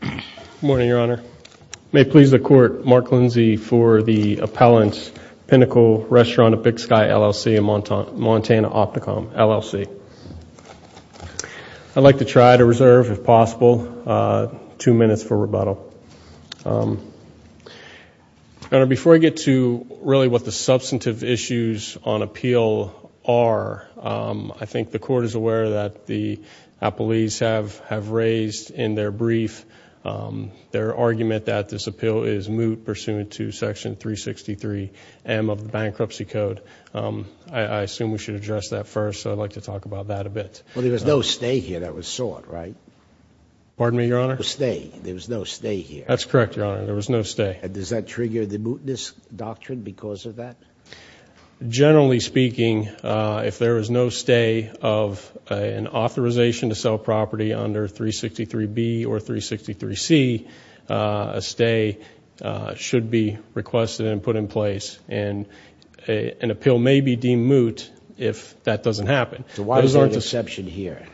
Good morning, Your Honor. May it please the Court, Mark Lindsay for the appellant, Pinnacle Restaurant at Big Sky, LLC in Montana, Opticom, LLC. I'd like to try to reserve, if possible, two minutes for rebuttal. Your Honor, before I get to really what the substantive issues on appeal are, I think the Court is aware that the appellees have raised in their brief their argument that this appeal is moot pursuant to Section 363M of the Bankruptcy Code. I assume we should address that first, so I'd like to talk about that a bit. Well, there was no stay here that was sought, right? Pardon me, Your Honor? No stay. There was no stay here. That's correct, Your Honor. There was no stay. And does that trigger the mootness doctrine because of that? Generally speaking, if there is no stay of an authorization to sell property under 363B or 363C, a stay should be requested and put in place, and an appeal may be deemed moot if that doesn't happen. So why is there an exception here?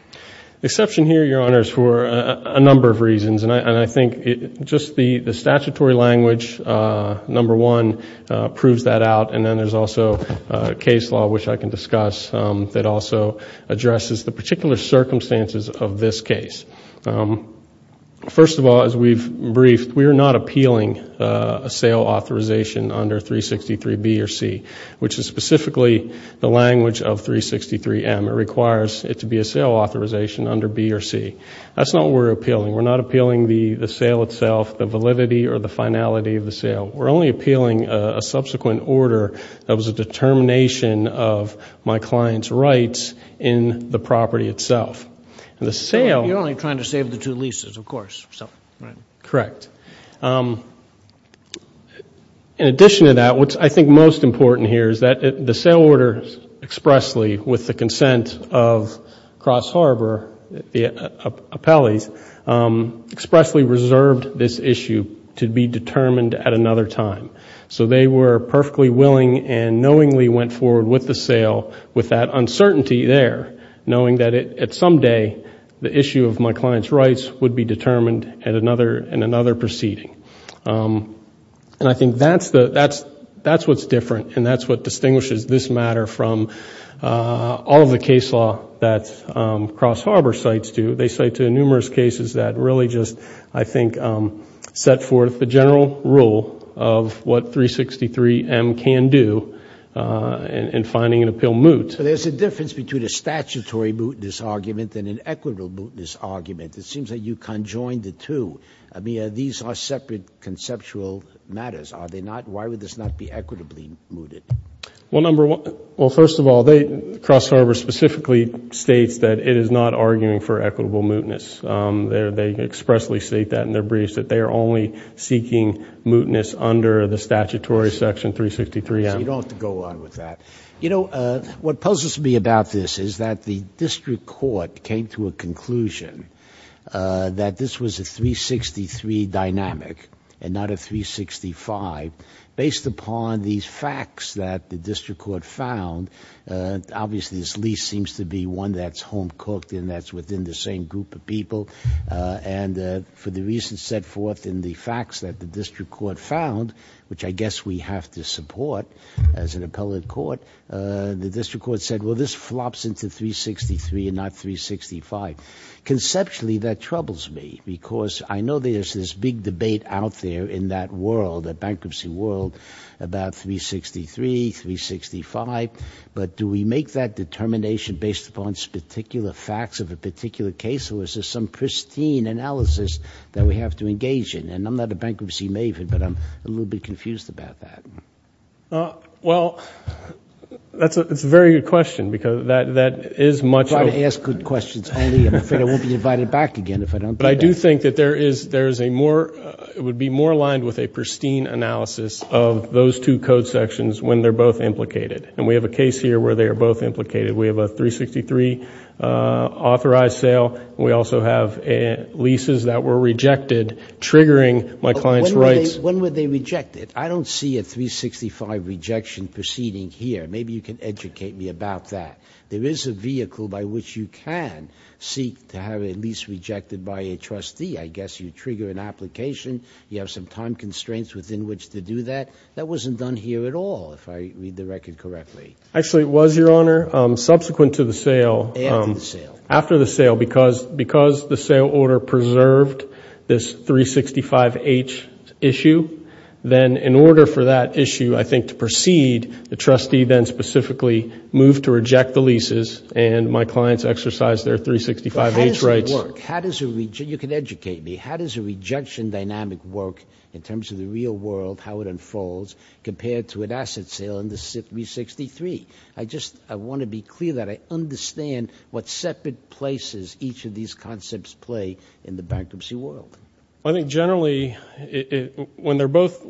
The exception here, Your Honor, is for a number of reasons, and I think just the statutory language, number one, proves that out, and then there's also case law, which I can discuss, that also addresses the particular circumstances of this case. First of all, as we've briefed, we are not appealing a sale authorization under 363B or 363C, which is specifically the language of 363M. It requires it to be a sale authorization under 363B or 363C. That's not what we're appealing. We're not appealing the sale itself, the validity or the finality of the sale. We're only appealing a subsequent order that was a determination of my client's rights in the property itself. You're only trying to save the two leases, of course. Correct. In addition to that, what I think is most important here is that the sale order expressly, with the consent of Cross Harbor, the appellees, expressly reserved this issue to be determined at another time. So they were perfectly willing and knowingly went forward with the sale with that uncertainty there, knowing that at some day the issue of my client's rights would be determined in another proceeding. I think that's what's different, and that's what distinguishes this matter from all of the case law that Cross Harbor cites to. They cite to numerous cases that really just, I think, set forth the general rule of what 363M can do in finding an appeal moot. So there's a difference between a statutory mootness argument and an equitable mootness argument. It seems that you conjoined the two. I mean, these are separate conceptual matters, are they not? Why would this not be equitably mooted? Well, first of all, Cross Harbor specifically states that it is not arguing for equitable mootness. They expressly state that in their briefs, that they are only seeking mootness under the statutory section 363M. You don't have to go on with that. You know, what puzzles me about this is that the district court came to a conclusion that this was a 363 dynamic and not a 365, based upon these facts that the district court found. Obviously, this lease seems to be one that's home-cooked and that's within the same group of people, and for the reasons set forth in the facts that the district court found, which I guess we have to support as an appellate court, the district court said, well, this flops into 363 and not 365. Conceptually, that troubles me because I know there's this big debate out there in that world, that bankruptcy world, about 363, 365, but do we make that determination based upon particular facts of a particular case, or is there some pristine analysis that we have to engage in? And I'm not a bankruptcy maven, but I'm a little bit confused about that. Well, that's a very good question because that is much of a question. I try to ask good questions only. I'm afraid I won't be invited back again if I don't do that. But I do think that there is a more – it would be more aligned with a pristine analysis of those two code sections when they're both implicated, and we have a case here where they are both implicated. We have a 363 authorized sale. We also have leases that were rejected triggering my client's rights. When were they rejected? I don't see a 365 rejection proceeding here. Maybe you can educate me about that. There is a vehicle by which you can seek to have a lease rejected by a trustee. I guess you trigger an application. You have some time constraints within which to do that. That wasn't done here at all, if I read the record correctly. Actually, it was, Your Honor, subsequent to the sale. After the sale. After the sale because the sale order preserved this 365H issue. Then in order for that issue, I think, to proceed, the trustee then specifically moved to reject the leases, and my clients exercised their 365H rights. How does that work? How does a – you can educate me. How does a rejection dynamic work in terms of the real world, how it unfolds, compared to an asset sale under 363? I just want to be clear that I understand what separate places each of these concepts play in the bankruptcy world. I think generally when they're both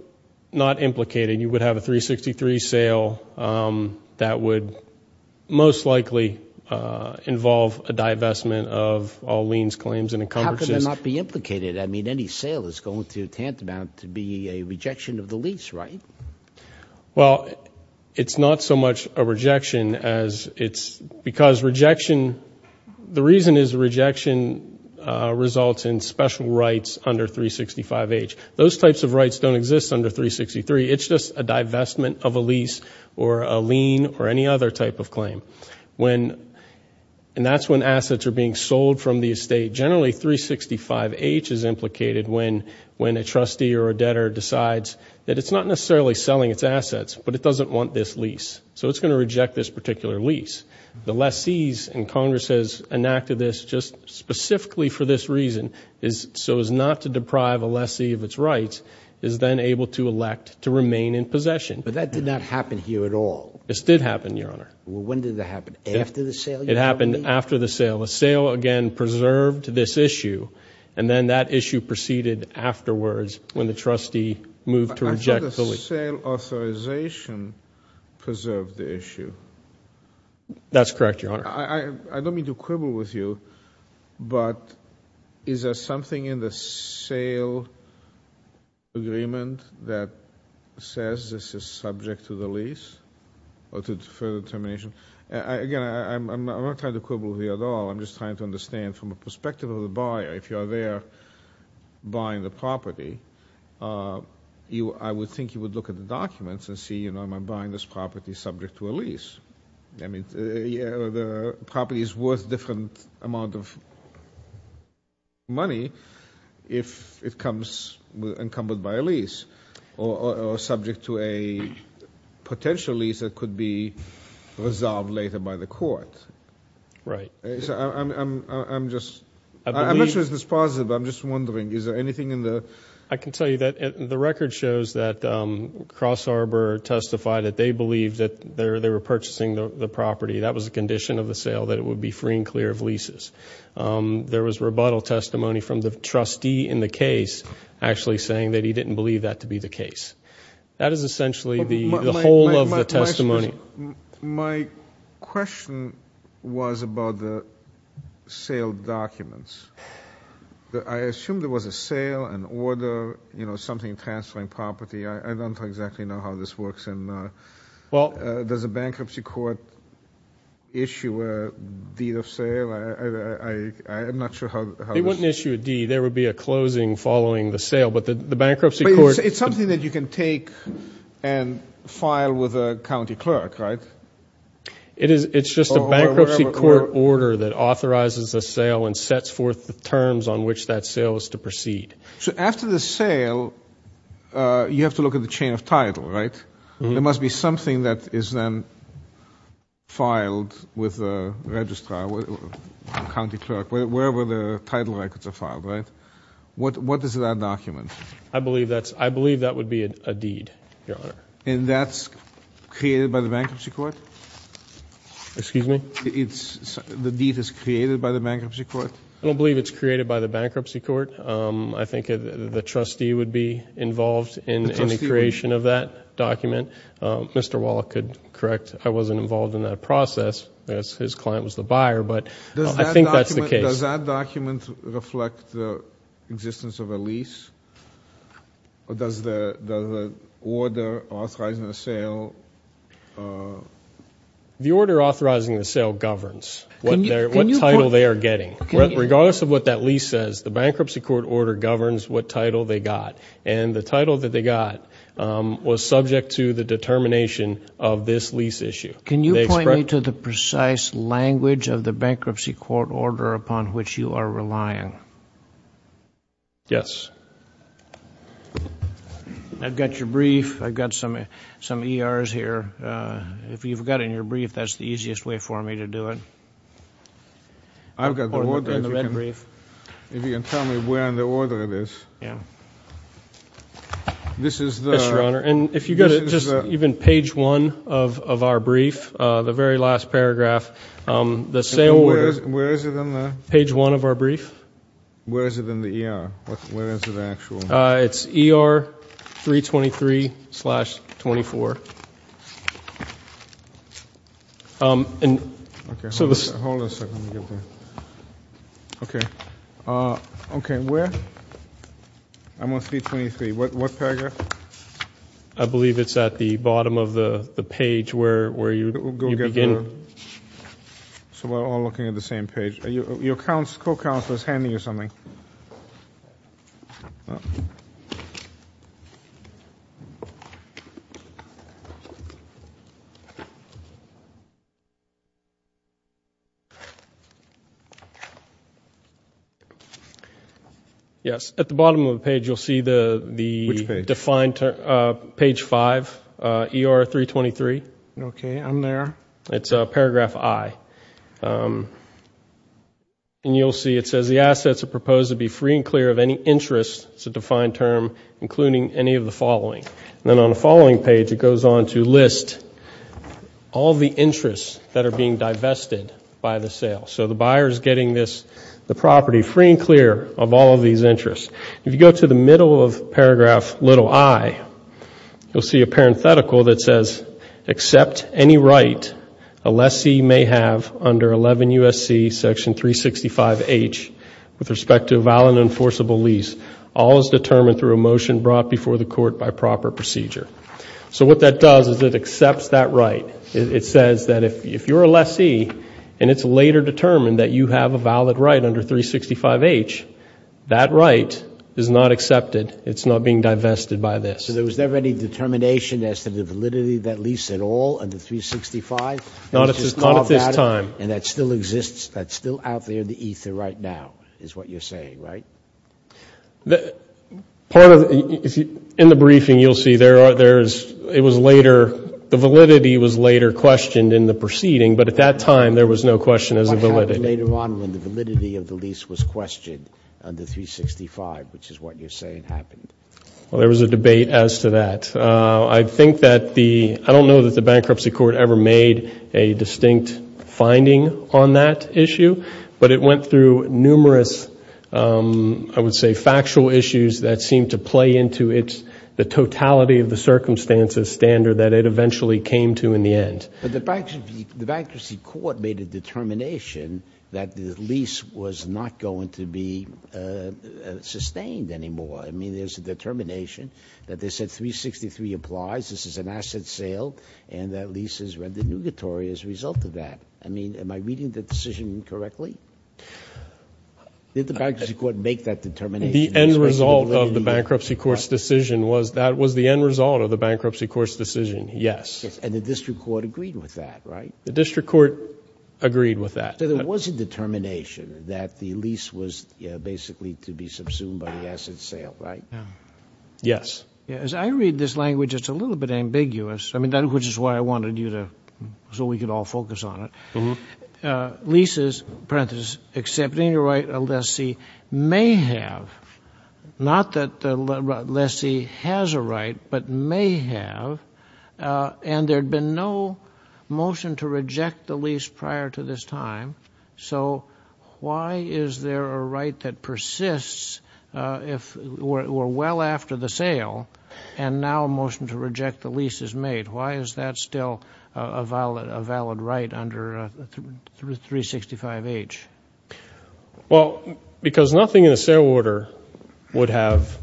not implicated, you would have a 363 sale that would most likely involve a divestment of all liens, How can they not be implicated? I mean, any sale is going to tantamount to be a rejection of the lease, right? Well, it's not so much a rejection as it's – because rejection – the reason is rejection results in special rights under 365H. Those types of rights don't exist under 363. It's just a divestment of a lease or a lien or any other type of claim. And that's when assets are being sold from the estate. Generally, 365H is implicated when a trustee or a debtor decides that it's not necessarily selling its assets, but it doesn't want this lease. So it's going to reject this particular lease. The lessees, and Congress has enacted this just specifically for this reason, so as not to deprive a lessee of its rights, is then able to elect to remain in possession. But that did not happen here at all. This did happen, Your Honor. Well, when did it happen? After the sale, you tell me? It happened after the sale. The sale, again, preserved this issue, and then that issue proceeded afterwards when the trustee moved to reject the lease. I thought the sale authorization preserved the issue. That's correct, Your Honor. I don't mean to quibble with you, but is there something in the sale agreement that says this is subject to the lease or to further determination? Again, I'm not trying to quibble with you at all. I'm just trying to understand from the perspective of the buyer, if you are there buying the property, I would think you would look at the documents and see, you know, am I buying this property subject to a lease? I mean, the property is worth a different amount of money if it comes encumbered by a lease or subject to a potential lease that could be resolved later by the court. Right. I'm just – I'm not sure if this is positive, but I'm just wondering, is there anything in the – I can tell you that the record shows that Cross Arbor testified that they believed that they were purchasing the property. That was the condition of the sale, that it would be free and clear of leases. There was rebuttal testimony from the trustee in the case actually saying that he didn't believe that to be the case. That is essentially the whole of the testimony. My question was about the sale documents. I assumed there was a sale, an order, you know, something transferring property. I don't exactly know how this works. And does a bankruptcy court issue a deed of sale? I'm not sure how this – They wouldn't issue a deed. There would be a closing following the sale. But the bankruptcy court – It's something that you can take and file with a county clerk, right? It's just a bankruptcy court order that authorizes a sale and sets forth the terms on which that sale is to proceed. So after the sale, you have to look at the chain of title, right? There must be something that is then filed with a registrar, county clerk, wherever the title records are filed, right? What is that document? I believe that's – I believe that would be a deed, Your Honor. And that's created by the bankruptcy court? Excuse me? The deed is created by the bankruptcy court? I don't believe it's created by the bankruptcy court. I think the trustee would be involved in the creation of that document. Mr. Wallach could correct I wasn't involved in that process. His client was the buyer, but I think that's the case. Does that document reflect the existence of a lease? Or does the order authorizing the sale – The order authorizing the sale governs what title they are getting. Regardless of what that lease says, the bankruptcy court order governs what title they got. And the title that they got was subject to the determination of this lease issue. Can you point me to the precise language of the bankruptcy court order upon which you are relying? Yes. I've got your brief. I've got some ERs here. If you've got it in your brief, that's the easiest way for me to do it. I've got the order. Put it in the red brief. If you can tell me where in the order it is. Yeah. This is the – Yes, Your Honor. And if you've got it, just even page one of our brief, the very last paragraph. The sale order – Where is it in the – Page one of our brief. Where is it in the ER? Where is the actual – It's ER 323-24. Okay. Hold on a second. Let me get that. Okay. Okay, where – I'm on 323. What paragraph? I believe it's at the bottom of the page where you begin. So we're all looking at the same page. Your co-counsel is handing you something. Yes. At the bottom of the page you'll see the – Which page? Page five, ER 323. Okay, I'm there. It's paragraph I. And you'll see it says, the assets are proposed to be free and clear of any interest, it's a defined term, including any of the following. And then on the following page it goes on to list all the interests that are being divested by the sale. So the buyer is getting this, the property free and clear of all of these interests. If you go to the middle of paragraph i, you'll see a parenthetical that says, except any right a lessee may have under 11 U.S.C. section 365H with respect to a valid and enforceable lease, all is determined through a motion brought before the court by proper procedure. So what that does is it accepts that right. It says that if you're a lessee and it's later determined that you have a valid right under 365H, that right is not accepted. It's not being divested by this. So there was never any determination as to the validity of that lease at all under 365? Not at this time. And that still exists, that's still out there in the ether right now, is what you're saying, right? Part of, in the briefing you'll see there's, it was later, the validity was later questioned in the proceeding, when the validity of the lease was questioned under 365, which is what you're saying happened. Well, there was a debate as to that. I think that the, I don't know that the bankruptcy court ever made a distinct finding on that issue, but it went through numerous, I would say, factual issues that seemed to play into it, the totality of the circumstances standard that it eventually came to in the end. But the bankruptcy court made a determination that the lease was not going to be sustained anymore. I mean, there's a determination that they said 363 applies, this is an asset sale, and that lease is renegatory as a result of that. I mean, am I reading the decision correctly? Did the bankruptcy court make that determination? The end result of the bankruptcy court's decision was, that was the end result of the bankruptcy court's decision, yes. And the district court agreed with that, right? The district court agreed with that. So there was a determination that the lease was basically to be subsumed by the asset sale, right? Yes. As I read this language, it's a little bit ambiguous. I mean, which is why I wanted you to, so we could all focus on it. Leases, parenthesis, except any right a lessee may have, not that the lessee has a right, but may have, and there had been no motion to reject the lease prior to this time, so why is there a right that persists if we're well after the sale and now a motion to reject the lease is made? Why is that still a valid right under 365H? Well, because nothing in the sale order would have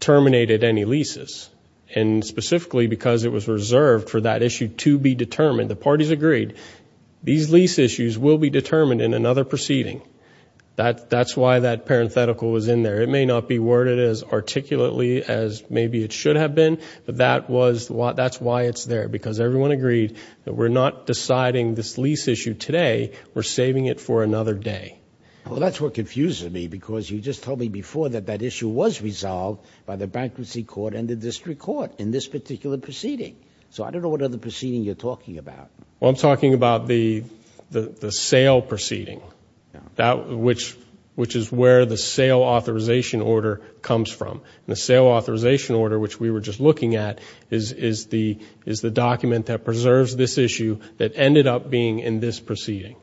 terminated any leases, and specifically because it was reserved for that issue to be determined. The parties agreed these lease issues will be determined in another proceeding. That's why that parenthetical was in there. It may not be worded as articulately as maybe it should have been, but that's why it's there, because everyone agreed that we're not deciding this lease issue today. We're saving it for another day. Well, that's what confuses me, because you just told me before that that issue was resolved by the bankruptcy court and the district court in this particular proceeding, so I don't know what other proceeding you're talking about. Well, I'm talking about the sale proceeding, which is where the sale authorization order comes from, and the sale authorization order, which we were just looking at, is the document that preserves this issue that ended up being in this proceeding.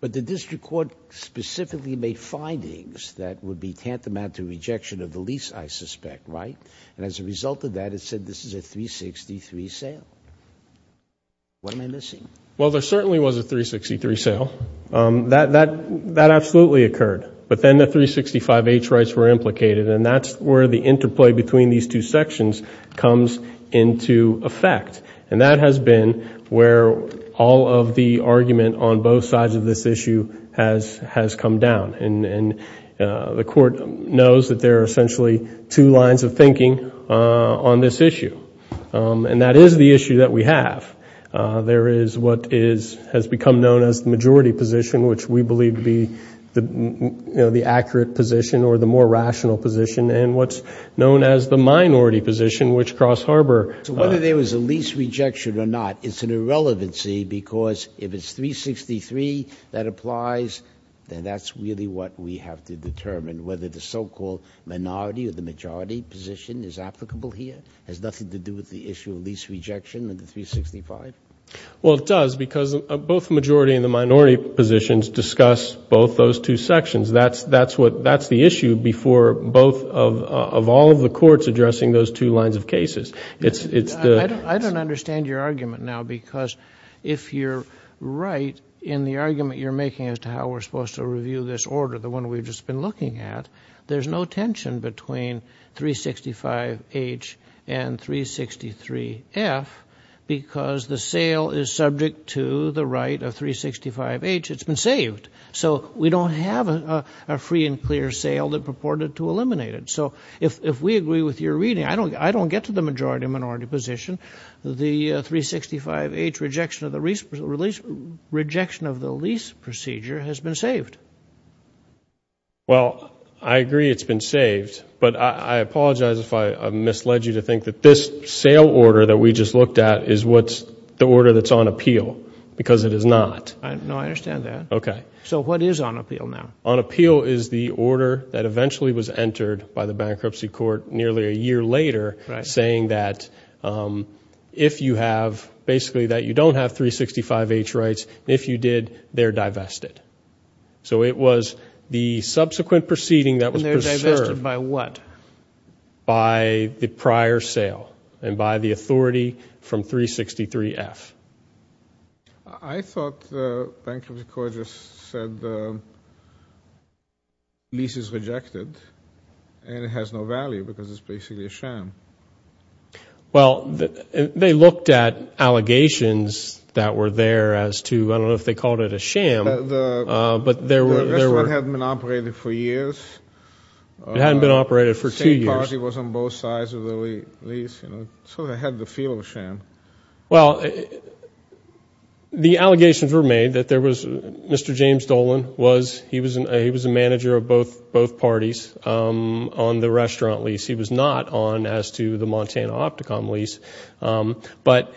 But the district court specifically made findings that would be tantamount to rejection of the lease, I suspect, right? And as a result of that, it said this is a 363 sale. What am I missing? Well, there certainly was a 363 sale. That absolutely occurred, but then the 365H rights were implicated, and that's where the interplay between these two sections comes into effect, and that has been where all of the argument on both sides of this issue has come down. And the court knows that there are essentially two lines of thinking on this issue, and that is the issue that we have. There is what has become known as the majority position, which we believe to be the accurate position or the more rational position, and what's known as the minority position, which Cross Harbor. So whether there was a lease rejection or not, it's an irrelevancy, because if it's 363 that applies, then that's really what we have to determine, whether the so-called minority or the majority position is applicable here. It has nothing to do with the issue of lease rejection and the 365. Well, it does, because both the majority and the minority positions discuss both those two sections. That's the issue before both of all of the courts addressing those two lines of cases. I don't understand your argument now, because if you're right in the argument you're making as to how we're supposed to review this order, the one we've just been looking at, there's no tension between 365H and 363F, because the sale is subject to the right of 365H. It's been saved, so we don't have a free and clear sale that purported to eliminate it. So if we agree with your reading, I don't get to the majority or minority position. The 365H rejection of the lease procedure has been saved. Well, I agree it's been saved, but I apologize if I misled you to think that this sale order that we just looked at is the order that's on appeal, because it is not. No, I understand that. Okay. So what is on appeal now? On appeal is the order that eventually was entered by the bankruptcy court nearly a year later, saying that if you have, basically that you don't have 365H rights, if you did, they're divested. So it was the subsequent proceeding that was preserved. And they're divested by what? By the prior sale and by the authority from 363F. I thought the bankruptcy court just said the lease is rejected and it has no value because it's basically a sham. Well, they looked at allegations that were there as to, I don't know if they called it a sham. The restaurant hadn't been operated for years. It hadn't been operated for two years. The same party was on both sides of the lease. So they had the feel of a sham. Well, the allegations were made that there was, Mr. James Dolan was, he was a manager of both parties on the restaurant lease. He was not on as to the Montana Opticom lease. But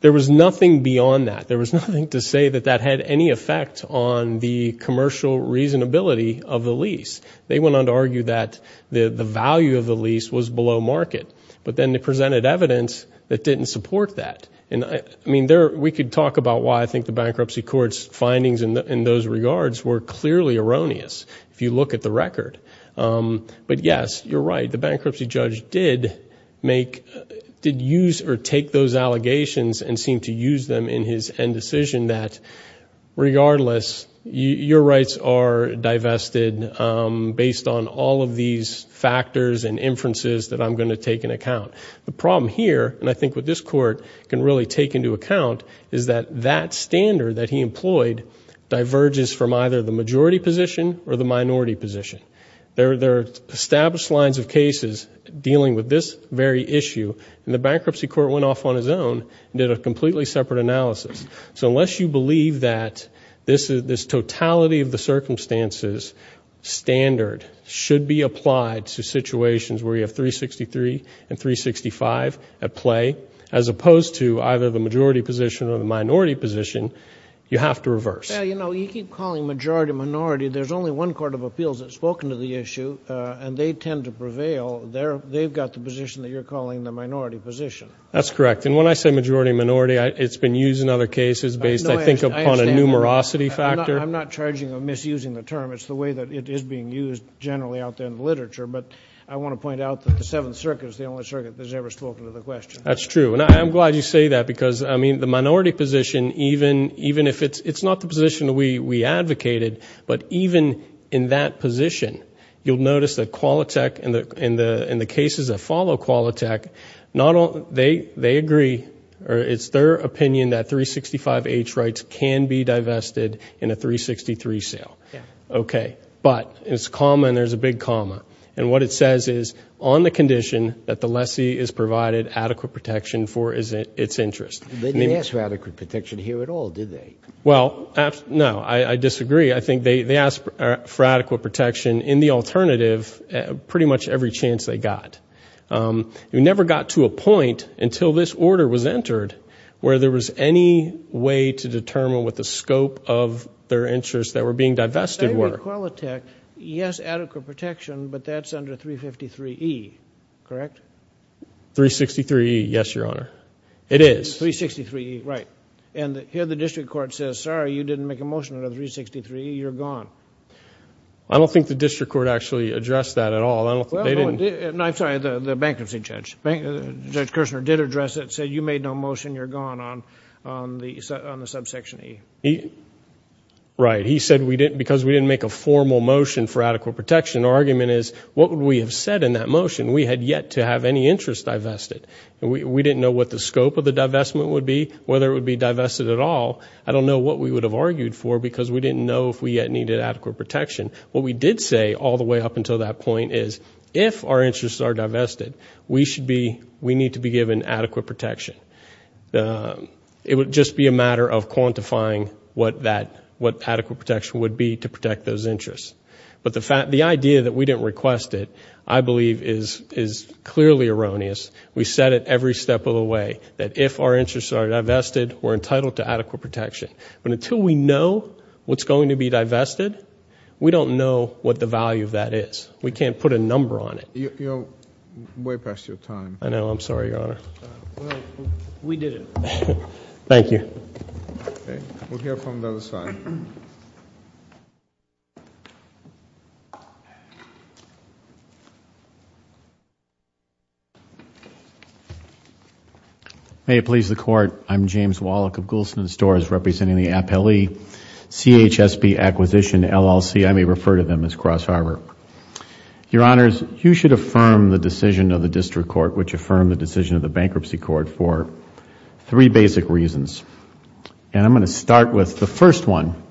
there was nothing beyond that. There was nothing to say that that had any effect on the commercial reasonability of the lease. They went on to argue that the value of the lease was below market. But then they presented evidence that didn't support that. And, I mean, we could talk about why I think the bankruptcy court's findings in those regards were clearly erroneous, if you look at the record. But, yes, you're right. The bankruptcy judge did make, did use or take those allegations and seemed to use them in his end decision that, regardless, your rights are divested based on all of these factors and inferences that I'm going to take into account. The problem here, and I think what this court can really take into account, is that that standard that he employed diverges from either the majority position or the minority position. There are established lines of cases dealing with this very issue. And the bankruptcy court went off on its own and did a completely separate analysis. So unless you believe that this totality of the circumstances standard should be applied to situations where you have 363 and 365 at play, as opposed to either the majority position or the minority position, you have to reverse. Well, you know, you keep calling majority minority. There's only one court of appeals that's spoken to the issue, and they tend to prevail. They've got the position that you're calling the minority position. That's correct. And when I say majority minority, it's been used in other cases based, I think, upon a numerosity factor. I'm not charging of misusing the term. It's the way that it is being used generally out there in the literature. But I want to point out that the Seventh Circuit is the only circuit that's ever spoken to the question. That's true. And I'm glad you say that because, I mean, the minority position, even if it's not the position we advocated, but even in that position, you'll notice that Qualitech and the cases that follow Qualitech, they agree or it's their opinion that 365H rights can be divested in a 363 sale. Yeah. Okay. But it's a comma and there's a big comma. And what it says is, on the condition that the lessee is provided adequate protection for its interest. They didn't ask for adequate protection here at all, did they? Well, no. I disagree. I think they asked for adequate protection in the alternative pretty much every chance they got. We never got to a point until this order was entered where there was any way to determine what the scope of their interest that were being divested were. They did Qualitech, yes, adequate protection, but that's under 353E, correct? 363E, yes, Your Honor. It is. 363E, right. And here the district court says, sorry, you didn't make a motion under 363E, you're gone. I don't think the district court actually addressed that at all. I'm sorry, the bankruptcy judge. Judge Kirshner did address it, said you made no motion, you're gone on the subsection E. Right. He said because we didn't make a formal motion for adequate protection, our argument is what would we have said in that motion? We had yet to have any interest divested. We didn't know what the scope of the divestment would be, whether it would be divested at all. I don't know what we would have argued for because we didn't know if we yet needed adequate protection. What we did say all the way up until that point is if our interests are divested, we need to be given adequate protection. It would just be a matter of quantifying what adequate protection would be to protect those interests. But the idea that we didn't request it, I believe, is clearly erroneous. We said it every step of the way, that if our interests are divested, we're entitled to adequate protection. But until we know what's going to be divested, we don't know what the value of that is. We can't put a number on it. You're way past your time. I know. I'm sorry, Your Honor. We did it. Thank you. We'll hear from the other side. May it please the Court. I'm James Wallach of Goulston & Storrs, representing the Appellee CHSB Acquisition LLC. I may refer to them as Cross Harbor. Your Honors, you should affirm the decision of the District Court, which affirmed the decision of the Bankruptcy Court, for three basic reasons. I'm going to start with the first one.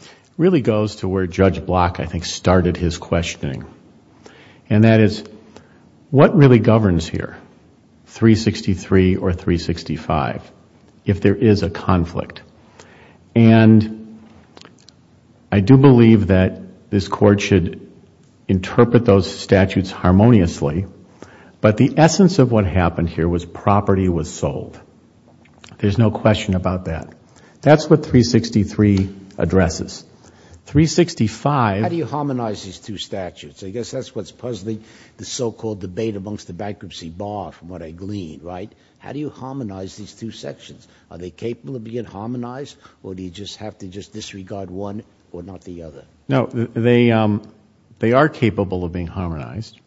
It really goes to where Judge Block, I think, started his questioning. And that is, what really governs here, 363 or 365, if there is a conflict? And I do believe that this Court should interpret those statutes harmoniously. But the essence of what happened here was property was sold. There's no question about that. That's what 363 addresses. How do you harmonize these two statutes? I guess that's what's puzzling the so-called debate amongst the bankruptcy bar, from what I glean, right? How do you harmonize these two sections? Are they capable of being harmonized, or do you just have to disregard one or not the other? No, they are capable of being harmonized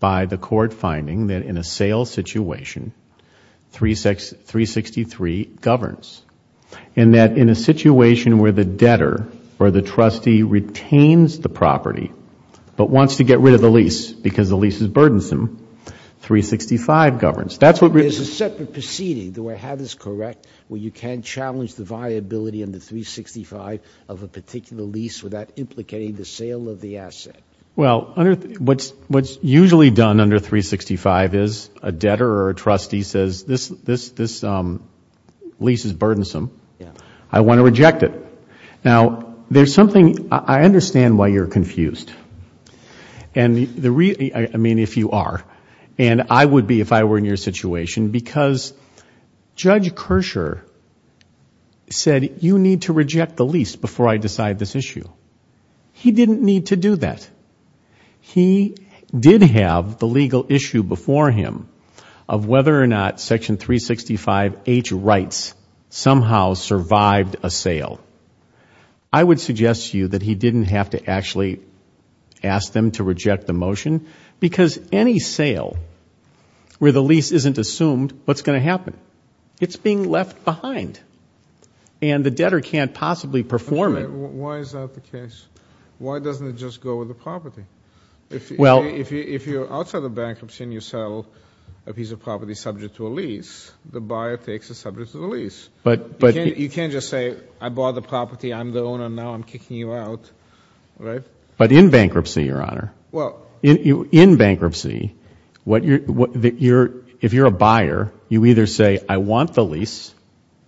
by the Court finding that in a sales situation, 363 governs. And that in a situation where the debtor or the trustee retains the property, but wants to get rid of the lease because the lease is burdensome, 365 governs. There's a separate proceeding, though I have this correct, where you can challenge the viability under 365 of a particular lease without implicating the sale of the asset. Well, what's usually done under 365 is a debtor or a trustee says, this lease is burdensome, I want to reject it. Now, there's something, I understand why you're confused. I mean, if you are. And I would be if I were in your situation, because Judge Kershaw said, you need to reject the lease before I decide this issue. He didn't need to do that. He did have the legal issue before him of whether or not Section 365H rights somehow survived a sale. I would suggest to you that he didn't have to actually ask them to reject the motion, because any sale where the lease isn't assumed, what's going to happen? It's being left behind. And the debtor can't possibly perform it. Why is that the case? Why doesn't it just go with the property? If you're outside of bankruptcy and you sell a piece of property subject to a lease, the buyer takes it subject to the lease. You can't just say, I bought the property, I'm the owner now, I'm kicking you out. But in bankruptcy, Your Honor, in bankruptcy, if you're a buyer, you either say, I want the lease,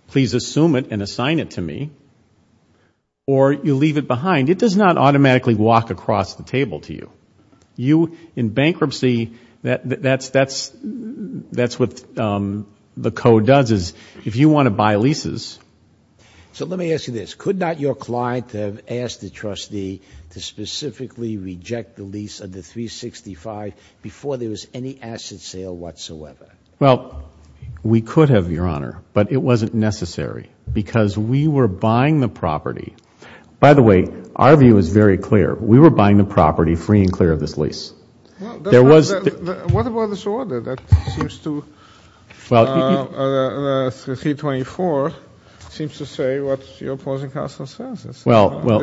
please assume it and assign it to me, or you leave it behind. It does not automatically walk across the table to you. You, in bankruptcy, that's what the code does, is if you want to buy leases. So let me ask you this. Could not your client have asked the trustee to specifically reject the lease under 365 before there was any asset sale whatsoever? Well, we could have, Your Honor, but it wasn't necessary because we were buying the property. By the way, our view is very clear. We were buying the property free and clear of this lease. What about this order that seems to, 324, seems to say what your opposing counsel says? It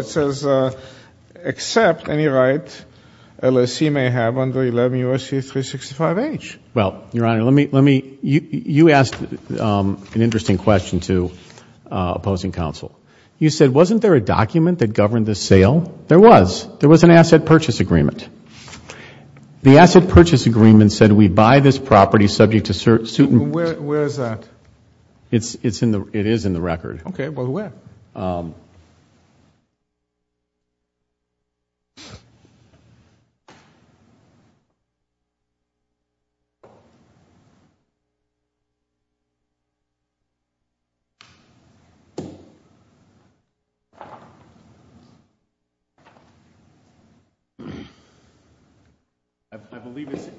says, except any right LSE may have under 11 U.S.C. 365H. Well, Your Honor, you asked an interesting question to opposing counsel. You said, wasn't there a document that governed this sale? There was. There was an asset purchase agreement. The asset purchase agreement said we buy this property subject to certain Where is that? It is in the record. Okay, well, where?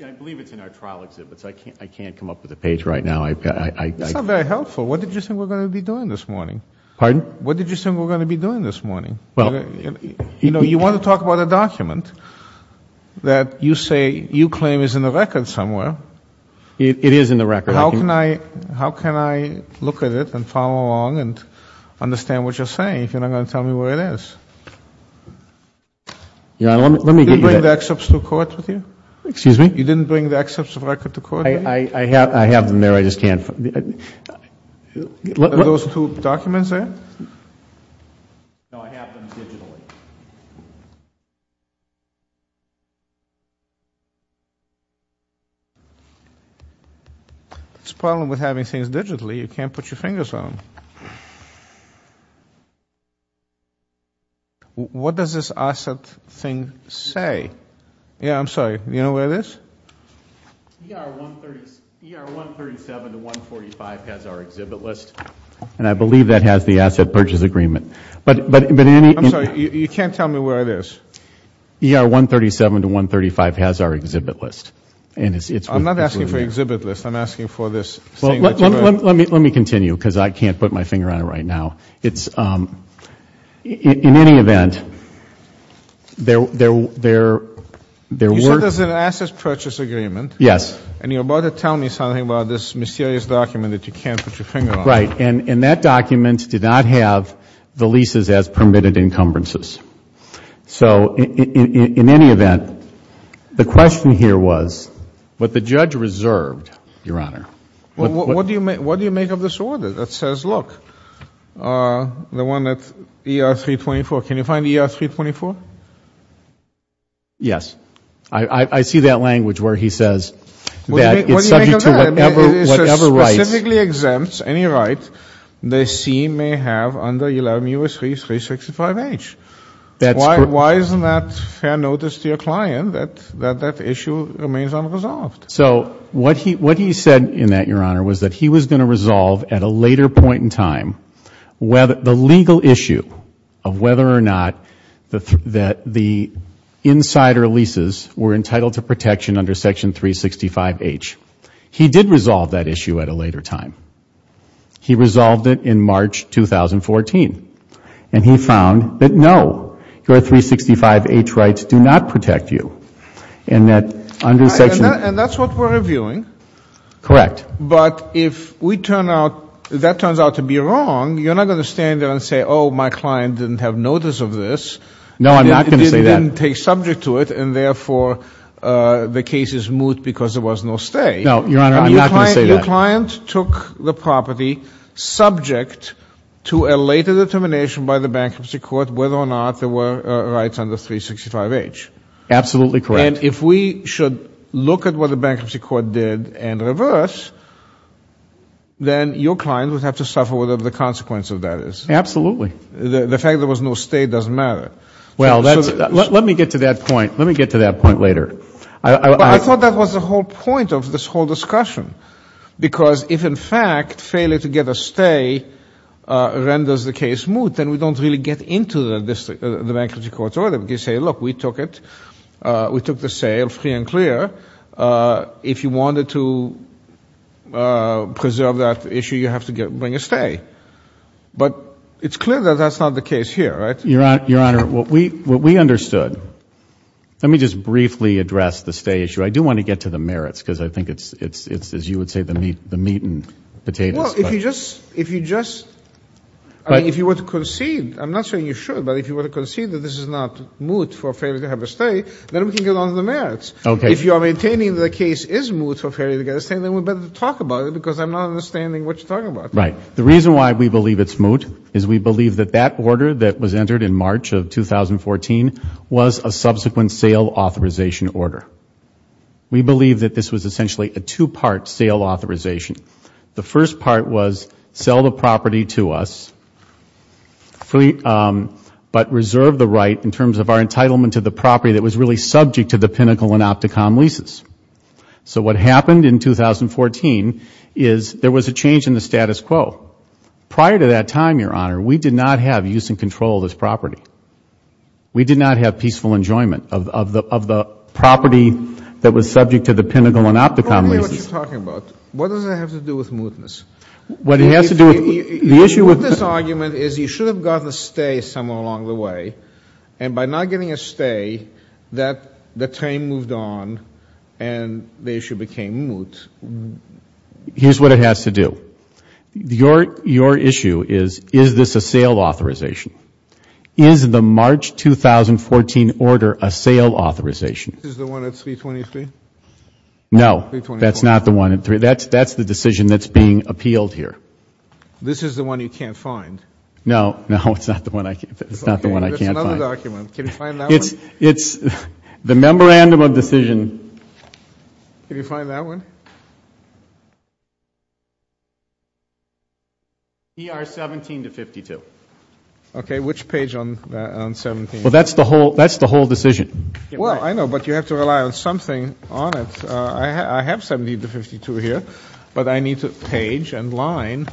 I believe it's in our trial exhibits. I can't come up with a page right now. It's not very helpful. What did you think we're going to be doing this morning? Pardon? What did you think we're going to be doing this morning? You know, you want to talk about a document that you say you claim is in the record somewhere. It is in the record. How can I look at it and follow along and understand what you're saying if you're not going to tell me where it is? Let me give you that. Did you bring the excerpts to court with you? Excuse me? You didn't bring the excerpts of record to court with you? I have them there. I just can't. Are those two documents there? No, I have them digitally. That's the problem with having things digitally. You can't put your fingers on them. What does this asset thing say? Yeah, I'm sorry. Do you know where it is? ER 137 to 145 has our exhibit list. And I believe that has the asset purchase agreement. I'm sorry, you can't tell me where it is. ER 137 to 135 has our exhibit list. I'm not asking for exhibit list. I'm asking for this thing that you wrote. Let me continue because I can't put my finger on it right now. In any event, there were... You said there's an asset purchase agreement. Yes. And you're about to tell me something about this mysterious document that you can't put your finger on. Right. And that document did not have the leases as permitted encumbrances. So in any event, the question here was what the judge reserved, Your Honor. Well, what do you make of this order that says, look, the one that ER 324. Can you find ER 324? Yes. I see that language where he says that it's subject to whatever rights... What do you make of that? It specifically exempts any right the scene may have under 11 U.S.C. 365H. Why isn't that fair notice to your client that that issue remains unresolved? So what he said in that, Your Honor, was that he was going to resolve at a later point in time the legal issue of whether or not the insider leases were entitled to protection under Section 365H. He did resolve that issue at a later time. He resolved it in March 2014. And he found that, no, your 365H rights do not protect you. And that's what we're reviewing. Correct. But if that turns out to be wrong, you're not going to stand there and say, oh, my client didn't have notice of this. No, I'm not going to say that. It didn't take subject to it, and therefore the case is moot because there was no stay. No, Your Honor, I'm not going to say that. Your client took the property subject to a later determination by the Bankruptcy Court whether or not there were rights under 365H. Absolutely correct. And if we should look at what the Bankruptcy Court did and reverse, then your client would have to suffer whatever the consequence of that is. Absolutely. The fact there was no stay doesn't matter. Well, let me get to that point. Let me get to that point later. I thought that was the whole point of this whole discussion, because if, in fact, failure to get a stay renders the case moot, then we don't really get into the Bankruptcy Court's order. They say, look, we took it. We took the sale free and clear. If you wanted to preserve that issue, you have to bring a stay. But it's clear that that's not the case here, right? Your Honor, what we understood, let me just briefly address the stay issue. I do want to get to the merits because I think it's, as you would say, the meat and potatoes. Well, if you just, I mean, if you were to concede, I'm not saying you should, but if you were to concede that this is not moot for failure to have a stay, then we can get on to the merits. If you are maintaining that the case is moot for failure to get a stay, then we'd better talk about it because I'm not understanding what you're talking about. Right. The reason why we believe it's moot is we believe that that order that was entered in March of 2014 was a subsequent sale authorization order. We believe that this was essentially a two-part sale authorization. The first part was sell the property to us, but reserve the right in terms of our entitlement to the property that was really subject to the Pinnacle and Opticom leases. So what happened in 2014 is there was a change in the status quo. Prior to that time, Your Honor, we did not have use and control of this property. We did not have peaceful enjoyment of the property that was subject to the Pinnacle and Opticom leases. I don't understand what you're talking about. What does that have to do with mootness? The issue with this argument is you should have gotten a stay somewhere along the way, and by not getting a stay, the claim moved on and the issue became moot. Here's what it has to do. Your issue is, is this a sale authorization? Is the March 2014 order a sale authorization? Is the one at 323? No. That's not the one at 323. That's the decision that's being appealed here. This is the one you can't find? No. No, it's not the one I can't find. It's another document. Can you find that one? It's the memorandum of decision. Can you find that one? ER 17 to 52. Okay. Which page on 17? Well, that's the whole decision. Well, I know, but you have to rely on something on it. I have 17 to 52 here, but I need a page and line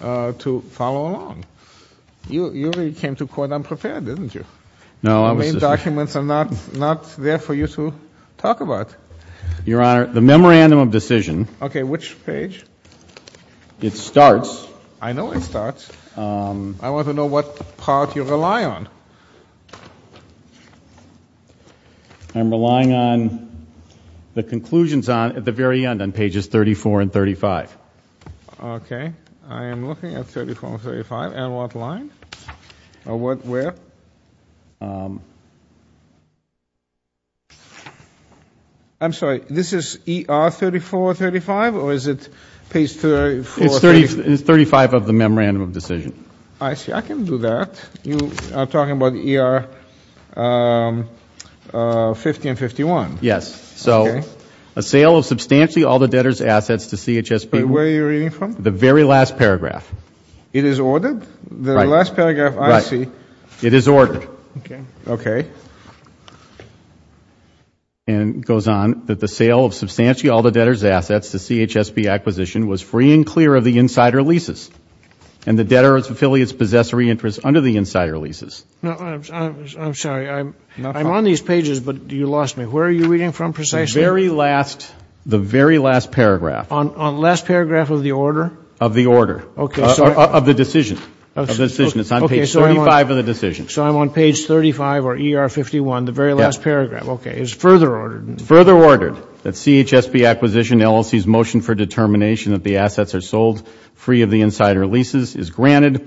to follow along. You really came to court unprepared, didn't you? No. The main documents are not there for you to talk about. Your Honor, the memorandum of decision. Okay, which page? It starts. I know it starts. I want to know what part you rely on. I'm relying on the conclusions at the very end on pages 34 and 35. Okay. I am looking at 34 and 35. And what line? Where? I'm sorry. This is ER 34, 35, or is it page 34? It's 35 of the memorandum of decision. I see. I can do that. You are talking about ER 50 and 51. Yes. Okay. So a sale of substantially all the debtor's assets to CHSB. Where are you reading from? The very last paragraph. It is ordered? Right. The last paragraph, I see. Right. It is ordered. Okay. Okay. And it goes on that the sale of substantially all the debtor's assets to CHSB acquisition was free and clear of the insider leases, and the debtor's affiliates possess re-interest under the insider leases. I'm sorry. I'm on these pages, but you lost me. Where are you reading from precisely? The very last paragraph. On the last paragraph of the order? Of the order. Okay. Of the decision. Of the decision. It's on page 35 of the decision. So I'm on page 35 or ER 51, the very last paragraph. Yes. Okay. It's further ordered. It's further ordered that CHSB acquisition LLC's motion for determination that the assets are sold free of the insider leases is granted.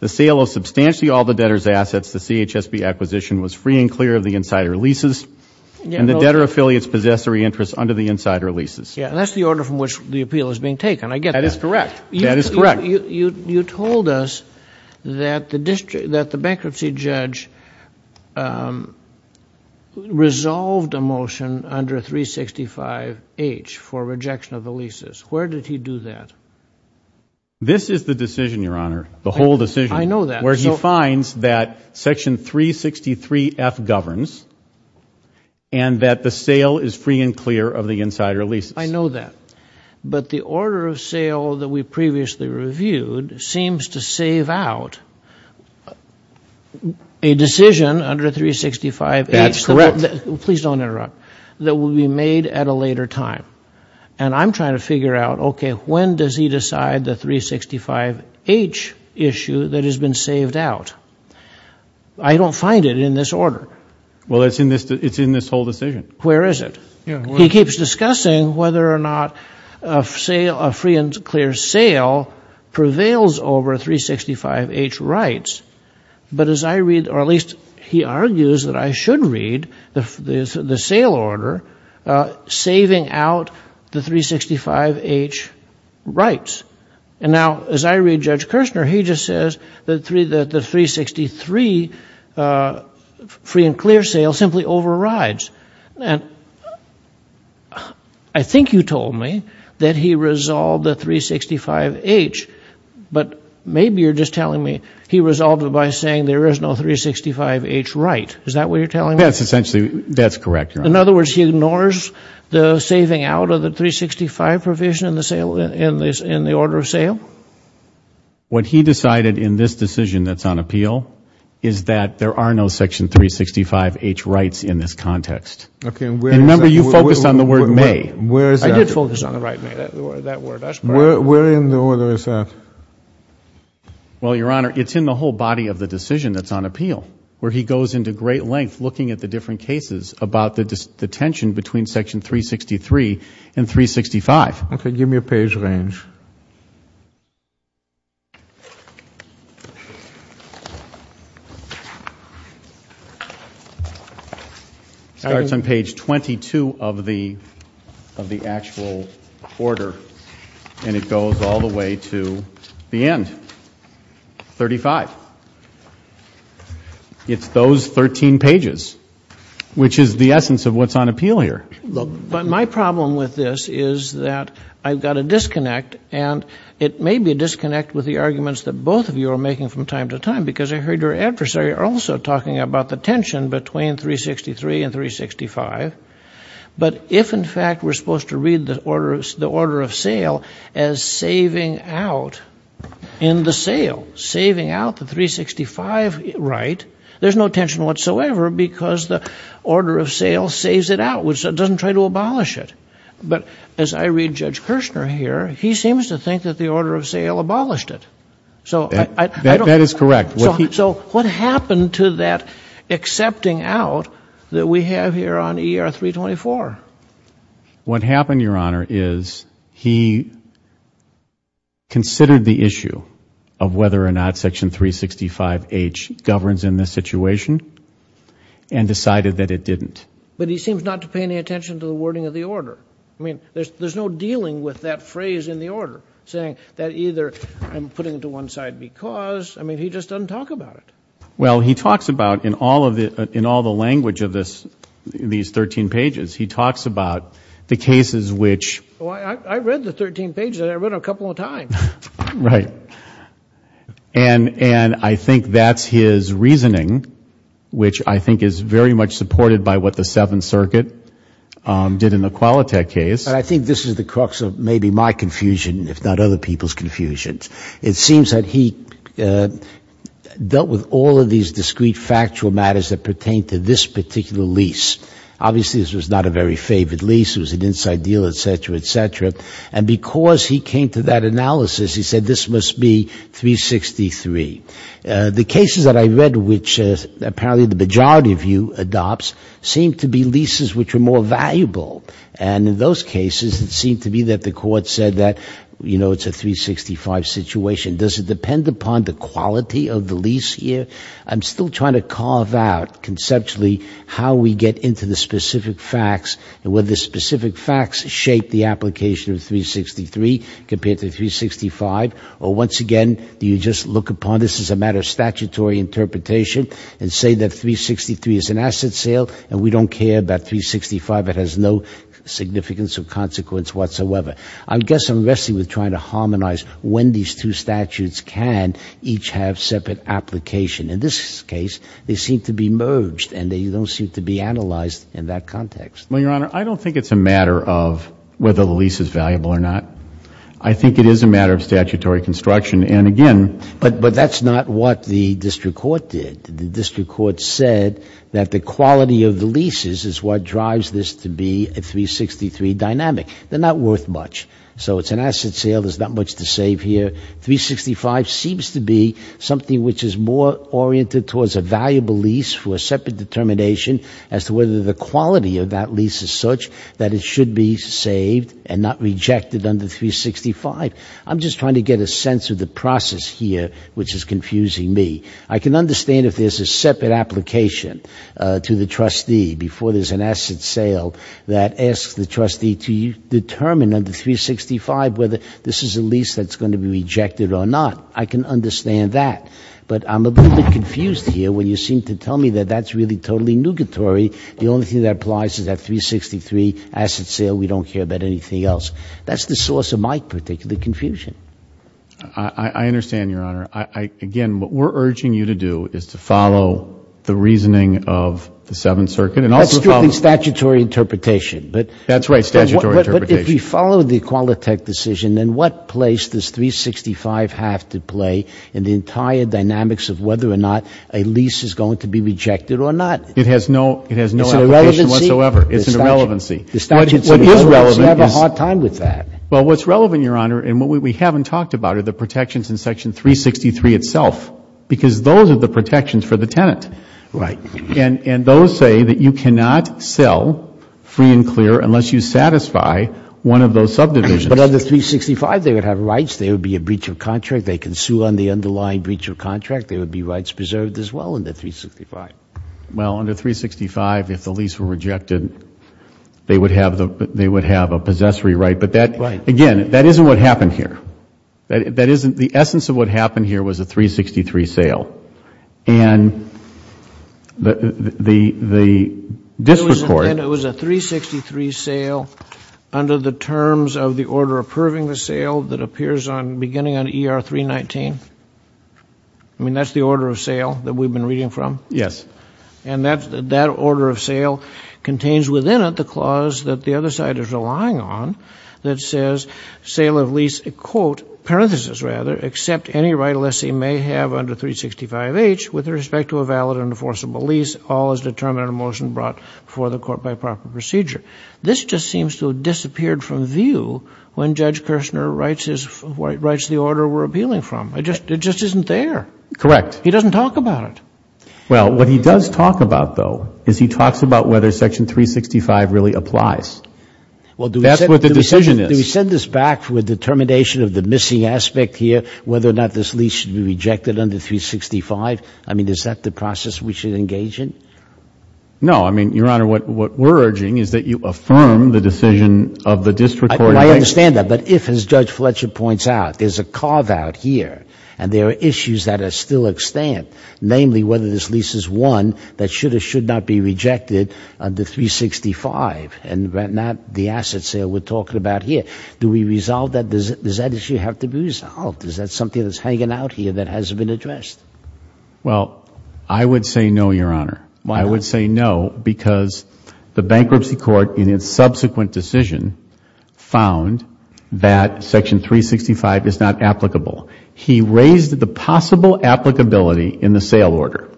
The sale of substantially all the debtor's assets to CHSB acquisition was free and clear of the insider leases, and the debtor affiliates possess re-interest under the insider leases. Yes. That's the order from which the appeal is being taken. I get that. That is correct. That is correct. You told us that the bankruptcy judge resolved a motion under 365H for rejection of the leases. Where did he do that? This is the decision, Your Honor, the whole decision. I know that. Where he finds that Section 363F governs and that the sale is free and clear of the insider leases. I know that. But the order of sale that we previously reviewed seems to save out a decision under 365H. That's correct. Please don't interrupt. That will be made at a later time. And I'm trying to figure out, okay, when does he decide the 365H issue that has been saved out? I don't find it in this order. Well, it's in this whole decision. Where is it? He keeps discussing whether or not a free and clear sale prevails over 365H rights. But as I read, or at least he argues that I should read the sale order saving out the 365H rights. And now, as I read Judge Kirshner, he just says that the 363 free and clear sale simply overrides. And I think you told me that he resolved the 365H. But maybe you're just telling me he resolved it by saying there is no 365H right. Is that what you're telling me? That's essentially, that's correct, Your Honor. In other words, he ignores the saving out of the 365 provision in the order of sale? What he decided in this decision that's on appeal is that there are no 365H rights in this context. Remember, you focused on the word may. Where is that? I did focus on the word may. Where in the order is that? Well, Your Honor, it's in the whole body of the decision that's on appeal, where he goes into great length looking at the different cases about the tension between section 363 and 365. Okay. Give me a page range. It starts on page 22 of the actual order, and it goes all the way to the end, 35. It's those 13 pages, which is the essence of what's on appeal here. But my problem with this is that I've got a disconnect, and it may be a disconnect with the arguments that both of you are making from time to time, because I heard your adversary also talking about the tension between 363 and 365. But if, in fact, we're supposed to read the order of sale as saving out in the sale, saving out the 365 right, there's no tension whatsoever because the order of sale saves it out, which doesn't try to abolish it. But as I read Judge Kirshner here, he seems to think that the order of sale abolished it. That is correct. So what happened to that accepting out that we have here on ER 324? What happened, Your Honor, is he considered the issue of whether or not section 365H governs in this situation and decided that it didn't. But he seems not to pay any attention to the wording of the order. I mean, there's no dealing with that phrase in the order, saying that either I'm putting it to one side because. I mean, he just doesn't talk about it. Well, he talks about in all of it, in all the language of this, these 13 pages, he talks about the cases which. I read the 13 pages and I read a couple of times. Right. And I think that's his reasoning, which I think is very much supported by what the Seventh Circuit did in the Qualitech case. And I think this is the crux of maybe my confusion, if not other people's confusions. It seems that he dealt with all of these discrete factual matters that pertain to this particular lease. Obviously, this was not a very favored lease. It was an inside deal, et cetera, et cetera. And because he came to that analysis, he said this must be 363. The cases that I read, which apparently the majority of you adopts, seem to be leases which are more valuable. And in those cases, it seemed to me that the court said that, you know, it's a 365 situation. Does it depend upon the quality of the lease here? I'm still trying to carve out conceptually how we get into the specific facts and whether specific facts shape the application of 363 compared to 365. Or once again, do you just look upon this as a matter of statutory interpretation and say that 363 is an asset sale and we don't care about 365? It has no significance or consequence whatsoever. I guess I'm wrestling with trying to harmonize when these two statutes can each have separate application. In this case, they seem to be merged and they don't seem to be analyzed in that context. Well, Your Honor, I don't think it's a matter of whether the lease is valuable or not. I think it is a matter of statutory construction. And again ---- But that's not what the district court did. The district court said that the quality of the leases is what drives this to be a 363 dynamic. They're not worth much. So it's an asset sale. There's not much to save here. 365 seems to be something which is more oriented towards a valuable lease for a separate determination as to whether the quality of that lease is such that it should be saved and not rejected under 365. I'm just trying to get a sense of the process here which is confusing me. I can understand if there's a separate application to the trustee before there's an asset sale that asks the trustee to determine under 365 whether this is a lease that's going to be rejected or not. I can understand that. But I'm a little bit confused here when you seem to tell me that that's really totally nugatory. The only thing that applies is that 363 asset sale. We don't care about anything else. That's the source of my particular confusion. I understand, Your Honor. Again, what we're urging you to do is to follow the reasoning of the Seventh Circuit. That's strictly statutory interpretation. That's right, statutory interpretation. But if you follow the Qualitech decision, then what place does 365 have to play in the entire dynamics of whether or not a lease is going to be rejected or not? It has no application whatsoever. It's an irrelevancy. It's an irrelevancy. What is relevant is. You have a hard time with that. Well, what's relevant, Your Honor, and what we haven't talked about are the protections in Section 363 itself because those are the protections for the tenant. Right. And those say that you cannot sell free and clear unless you satisfy one of those subdivisions. But under 365, they would have rights. There would be a breach of contract. They can sue on the underlying breach of contract. There would be rights preserved as well under 365. Well, under 365, if the lease were rejected, they would have a possessory right. But, again, that isn't what happened here. The essence of what happened here was a 363 sale. And the district court. It was a 363 sale under the terms of the order approving the sale that appears beginning on ER 319? I mean, that's the order of sale that we've been reading from? Yes. And that order of sale contains within it the clause that the other side is relying on that says sale of lease, quote, parenthesis rather, except any right unless he may have under 365H with respect to a valid and enforceable lease, all is determined in a motion brought before the court by proper procedure. This just seems to have disappeared from view when Judge Kirshner writes the order we're appealing from. It just isn't there. Correct. He doesn't talk about it. Well, what he does talk about, though, is he talks about whether Section 365 really applies. That's what the decision is. Do we send this back with determination of the missing aspect here, whether or not this lease should be rejected under 365? I mean, is that the process we should engage in? No. I mean, Your Honor, what we're urging is that you affirm the decision of the district court. I understand that. But if, as Judge Fletcher points out, there's a carve-out here and there are issues that are still extant, namely whether this lease is one that should or should not be rejected under 365, and not the asset sale we're talking about here, do we resolve that? Does that issue have to be resolved? Is that something that's hanging out here that hasn't been addressed? Well, I would say no, Your Honor. I would say no because the bankruptcy court in its subsequent decision found that Section 365 is not applicable. He raised the possible applicability in the sale order.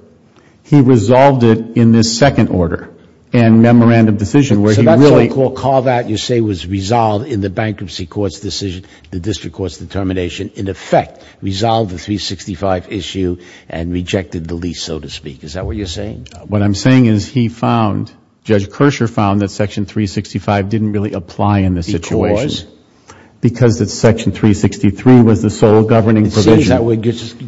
He resolved it in this second order and memorandum decision where he really ---- So that's what you call carve-out you say was resolved in the bankruptcy court's decision, the district court's determination, in effect resolved the 365 issue and rejected the lease, so to speak. Is that what you're saying? What I'm saying is he found, Judge Kersher found, that Section 365 didn't really apply in this situation. Because? Because Section 363 was the sole governing provision. It seems that we're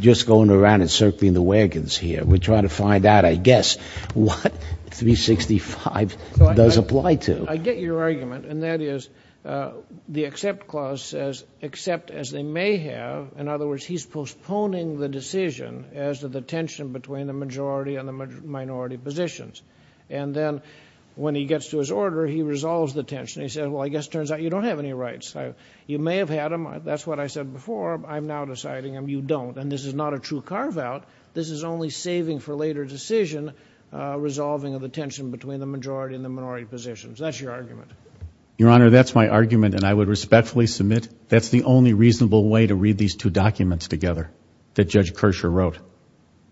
just going around and circling the wagons here. We're trying to find out, I guess, what 365 does apply to. I get your argument, and that is the except clause says, except as they may have. In other words, he's postponing the decision as to the tension between the majority and the minority positions. And then when he gets to his order, he resolves the tension. He says, well, I guess it turns out you don't have any rights. You may have had them. That's what I said before. I'm now deciding you don't. And this is not a true carve-out. This is only saving for later decision, resolving of the tension between the majority and the minority positions. That's your argument. Your Honor, that's my argument, and I would respectfully submit that's the only reasonable way to read these two documents together that Judge Kersher wrote.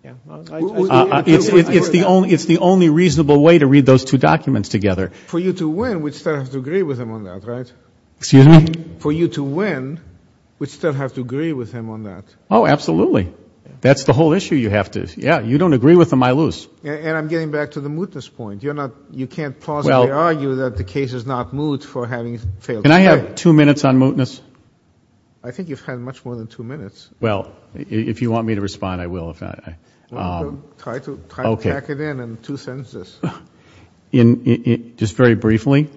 It's the only reasonable way to read those two documents together. For you to win, we'd still have to agree with him on that, right? Excuse me? For you to win, we'd still have to agree with him on that. Oh, absolutely. That's the whole issue you have to, yeah, you don't agree with him, I lose. And I'm getting back to the mootness point. You're not, you can't possibly argue that the case is not moot for having failed. Can I have two minutes on mootness? I think you've had much more than two minutes. Well, if you want me to respond, I will. Try to hack it in in two sentences. Just very briefly,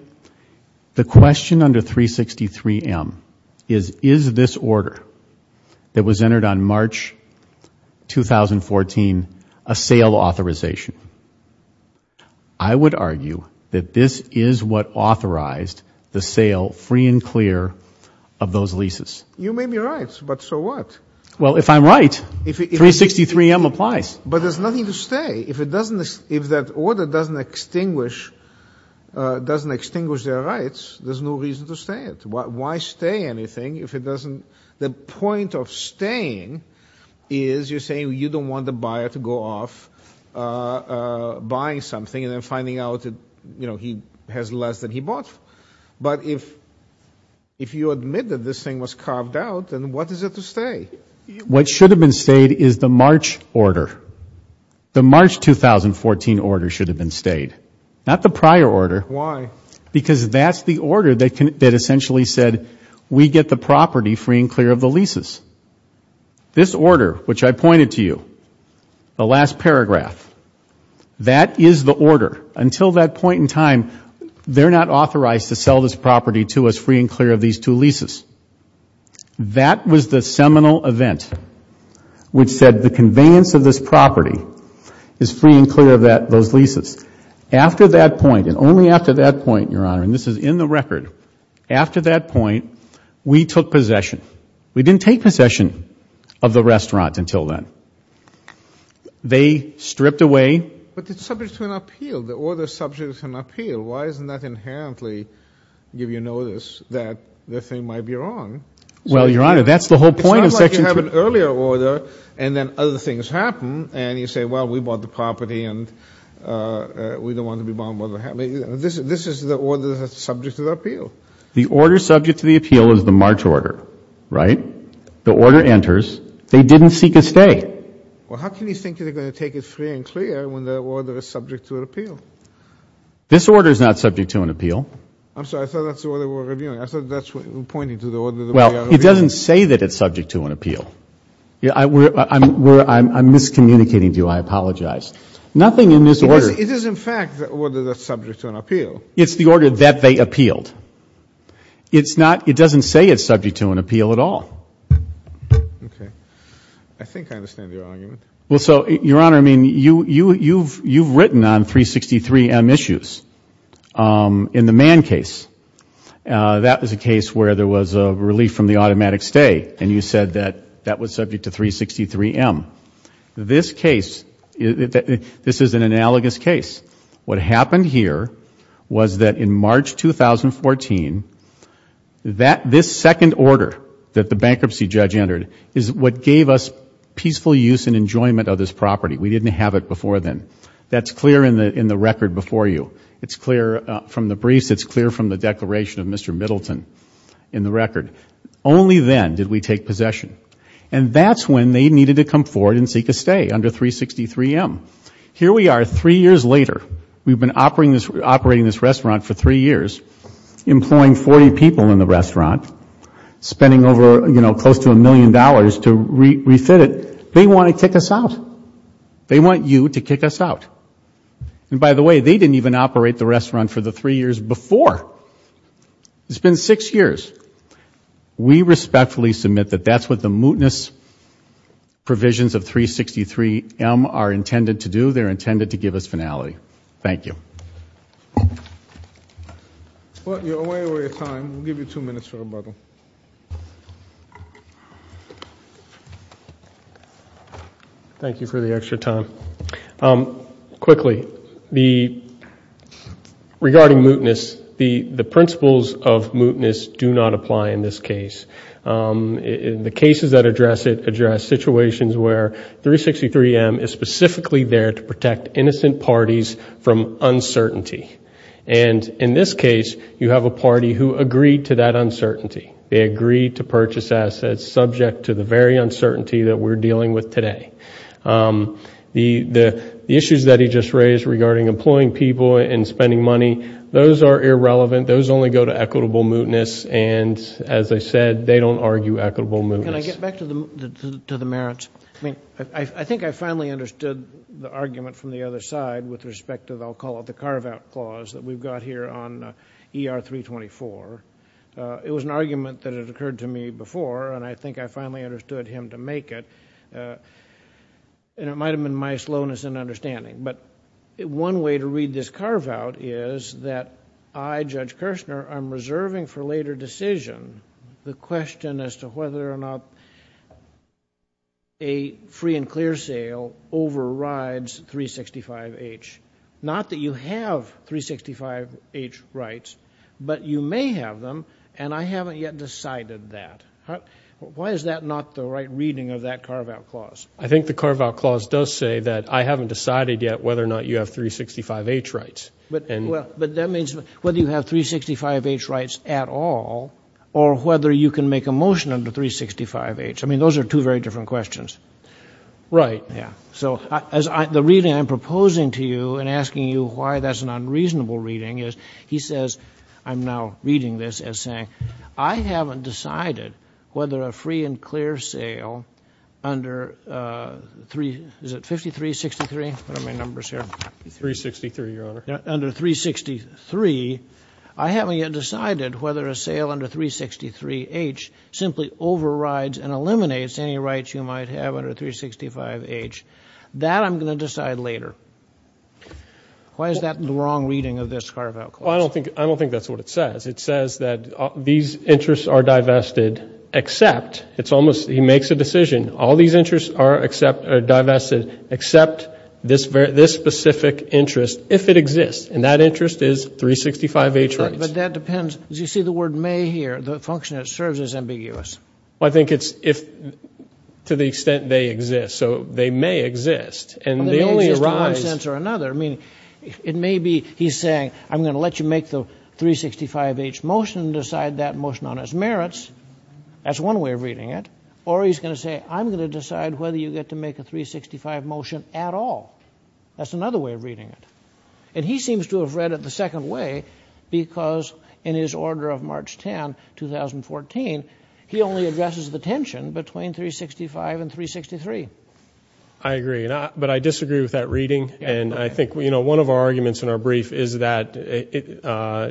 the question under 363M is, is this order that was entered on March 2014 a sale authorization? I would argue that this is what authorized the sale, free and clear, of those leases. You may be right, but so what? Well, if I'm right, 363M applies. But there's nothing to stay. If it doesn't, if that order doesn't extinguish, doesn't extinguish their rights, there's no reason to stay it. Why stay anything if it doesn't? The point of staying is you're saying you don't want the buyer to go off buying something and then finding out, you know, he has less than he bought. But if you admit that this thing was carved out, then what is it to stay? What should have been stayed is the March order. The March 2014 order should have been stayed. Not the prior order. Why? Because that's the order that essentially said we get the property free and clear of the leases. This order, which I pointed to you, the last paragraph, that is the order. Until that point in time, they're not authorized to sell this property to us free and clear of these two leases. That was the seminal event which said the conveyance of this property is free and clear of those leases. After that point, and only after that point, Your Honor, and this is in the record, after that point, we took possession. We didn't take possession of the restaurant until then. They stripped away. But it's subject to an appeal. The order is subject to an appeal. Why doesn't that inherently give you notice that the thing might be wrong? Well, Your Honor, that's the whole point of Section 2. It's not like you have an earlier order, and then other things happen, and you say, well, we bought the property, and we don't want to be bound by what happened. This is the order that's subject to the appeal. The order subject to the appeal is the March order, right? The order enters. They didn't seek a stay. Well, how can you think they're going to take it free and clear when the order is subject to an appeal? This order is not subject to an appeal. I'm sorry. I thought that's the order we're reviewing. I thought that's pointing to the order that we are reviewing. Well, it doesn't say that it's subject to an appeal. I'm miscommunicating to you. I apologize. Nothing in this order. It is, in fact, the order that's subject to an appeal. It's the order that they appealed. It's not — it doesn't say it's subject to an appeal at all. Okay. I think I understand your argument. Well, so, Your Honor, I mean, you've written on 363M issues in the Mann case. That was a case where there was a relief from the automatic stay, and you said that that was subject to 363M. This case, this is an analogous case. What happened here was that in March 2014, this second order that the bankruptcy judge entered is what gave us peaceful use and enjoyment of this property. We didn't have it before then. That's clear in the record before you. It's clear from the briefs. It's clear from the declaration of Mr. Middleton in the record. Only then did we take possession. And that's when they needed to come forward and seek a stay under 363M. Here we are three years later. We've been operating this restaurant for three years, employing 40 people in the restaurant, spending over, you know, close to a million dollars to refit it. They want to kick us out. They want you to kick us out. And, by the way, they didn't even operate the restaurant for the three years before. It's been six years. We respectfully submit that that's what the mootness provisions of 363M are intended to do. They're intended to give us finality. Thank you. You're way over your time. We'll give you two minutes for rebuttal. Thank you for the extra time. Quickly, regarding mootness, the principles of mootness do not apply in this case. The cases that address it address situations where 363M is specifically there to protect innocent parties from uncertainty. And in this case, you have a party who agreed to that uncertainty. They agreed to purchase assets subject to the very uncertainty that we're dealing with today. The issues that he just raised regarding employing people and spending money, those are irrelevant. Those only go to equitable mootness. And, as I said, they don't argue equitable mootness. Can I get back to the merits? I mean, I think I finally understood the argument from the other side with respect to, I'll call it, the carve-out clause that we've got here on ER-324. It was an argument that had occurred to me before, and I think I finally understood him to make it. And it might have been my slowness in understanding. But one way to read this carve-out is that I, Judge Kirshner, am reserving for later decision the question as to whether or not a free and clear sale overrides 365H. Not that you have 365H rights, but you may have them, and I haven't yet decided that. Why is that not the right reading of that carve-out clause? I think the carve-out clause does say that I haven't decided yet whether or not you have 365H rights. But that means whether you have 365H rights at all or whether you can make a motion under 365H. I mean, those are two very different questions. Right. Yeah. So the reading I'm proposing to you and asking you why that's an unreasonable reading is, he says, I'm now reading this as saying, I haven't decided whether a free and clear sale under, is it 5363? What are my numbers here? 363, Your Honor. Under 363, I haven't yet decided whether a sale under 363H simply overrides and eliminates any rights you might have under 365H. That I'm going to decide later. Why is that the wrong reading of this carve-out clause? Well, I don't think that's what it says. It says that these interests are divested except, it's almost, he makes a decision, all these interests are divested except this specific interest, if it exists. And that interest is 365H rights. But that depends. As you see the word may here, the function it serves is ambiguous. Well, I think it's if, to the extent they exist. So they may exist. They may exist in one sense or another. I mean, it may be he's saying, I'm going to let you make the 365H motion and decide that motion on its merits. That's one way of reading it. Or he's going to say, I'm going to decide whether you get to make a 365 motion at all. That's another way of reading it. And he seems to have read it the second way because in his order of March 10, 2014, he only addresses the tension between 365 and 363. I agree. But I disagree with that reading. And I think, you know, one of our arguments in our brief is that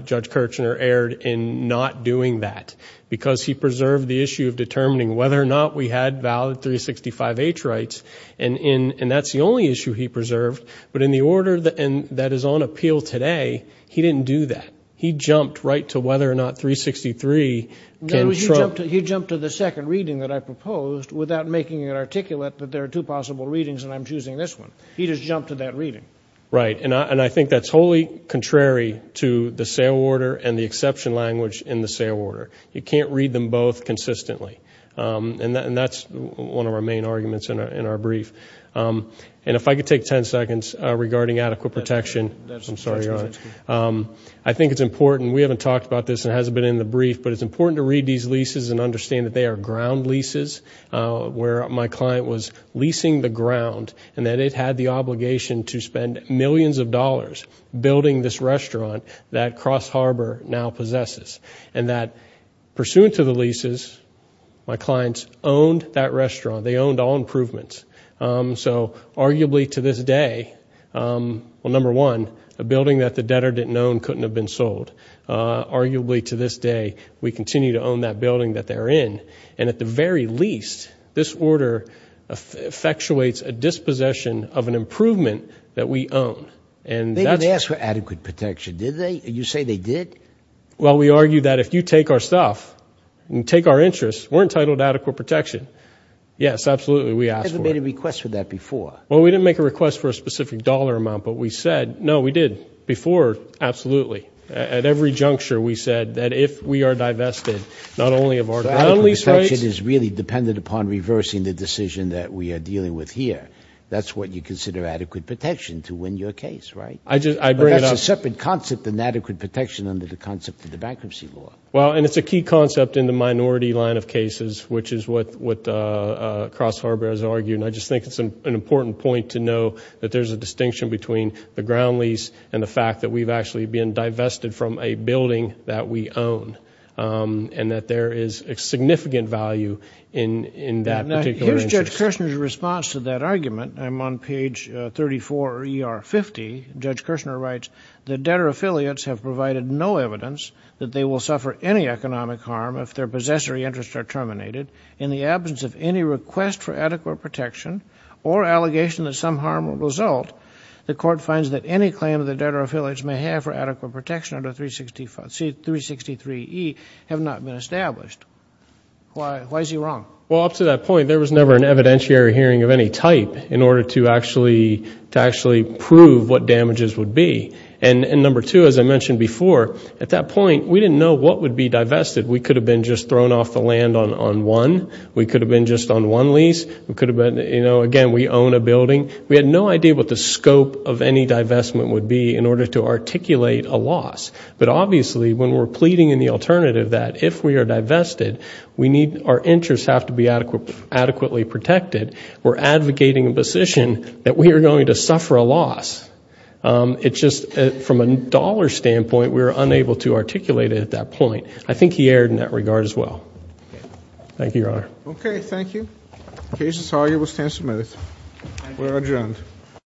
Judge Kirchner erred in not doing that because he preserved the issue of determining whether or not we had valid 365H rights. And that's the only issue he preserved. But in the order that is on appeal today, he didn't do that. He jumped right to whether or not 363 can trump. He jumped to the second reading that I proposed without making it articulate that there are two possible readings and I'm choosing this one. He just jumped to that reading. Right. And I think that's wholly contrary to the sale order and the exception language in the sale order. You can't read them both consistently. And that's one of our main arguments in our brief. And if I could take 10 seconds regarding adequate protection. I'm sorry, Your Honor. I think it's important. We haven't talked about this and it hasn't been in the brief, but it's important to read these leases and understand that they are ground leases, where my client was leasing the ground and that it had the obligation to spend millions of dollars building this restaurant that Cross Harbor now possesses and that pursuant to the leases, my clients owned that restaurant. They owned all improvements. So arguably to this day, well, number one, a building that the debtor didn't own couldn't have been sold. Arguably to this day, we continue to own that building that they're in. And at the very least, this order effectuates a dispossession of an improvement that we own. They didn't ask for adequate protection, did they? You say they did? Well, we argue that if you take our stuff and take our interests, we're entitled to adequate protection. Yes, absolutely. We asked for it. You haven't made a request for that before. Well, we didn't make a request for a specific dollar amount, but we said, no, we did before. Absolutely. At every juncture, we said that if we are divested, not only of our ground lease rights. So adequate protection is really dependent upon reversing the decision that we are dealing with here. That's what you consider adequate protection to win your case, right? I bring it up. It's a separate concept than adequate protection under the concept of the bankruptcy law. Well, and it's a key concept in the minority line of cases, which is what Cross Harbor has argued. And I just think it's an important point to know that there's a distinction between the ground lease and the fact that we've actually been divested from a building that we own and that there is a significant value in that particular interest. Here's Judge Kirshner's response to that argument. I'm on page 34, ER 50. Judge Kirshner writes, the debtor affiliates have provided no evidence that they will suffer any economic harm if their possessory interests are terminated in the absence of any request for adequate protection or allegation that some harm will result. The court finds that any claim that the debtor affiliates may have for adequate protection under 363E have not been established. Why is he wrong? Well, up to that point, there was never an evidentiary hearing of any type in order to actually prove what damages would be. And number two, as I mentioned before, at that point, we didn't know what would be divested. We could have been just thrown off the land on one. We could have been just on one lease. Again, we own a building. We had no idea what the scope of any divestment would be in order to articulate a loss. But obviously, when we're pleading in the alternative that if we are divested, our interests have to be adequately protected, we're advocating a position that we are going to suffer a loss. It's just from a dollar standpoint, we were unable to articulate it at that point. I think he erred in that regard as well. Thank you, Your Honor. Okay, thank you. The case is argued. We'll stand some minutes. We're adjourned.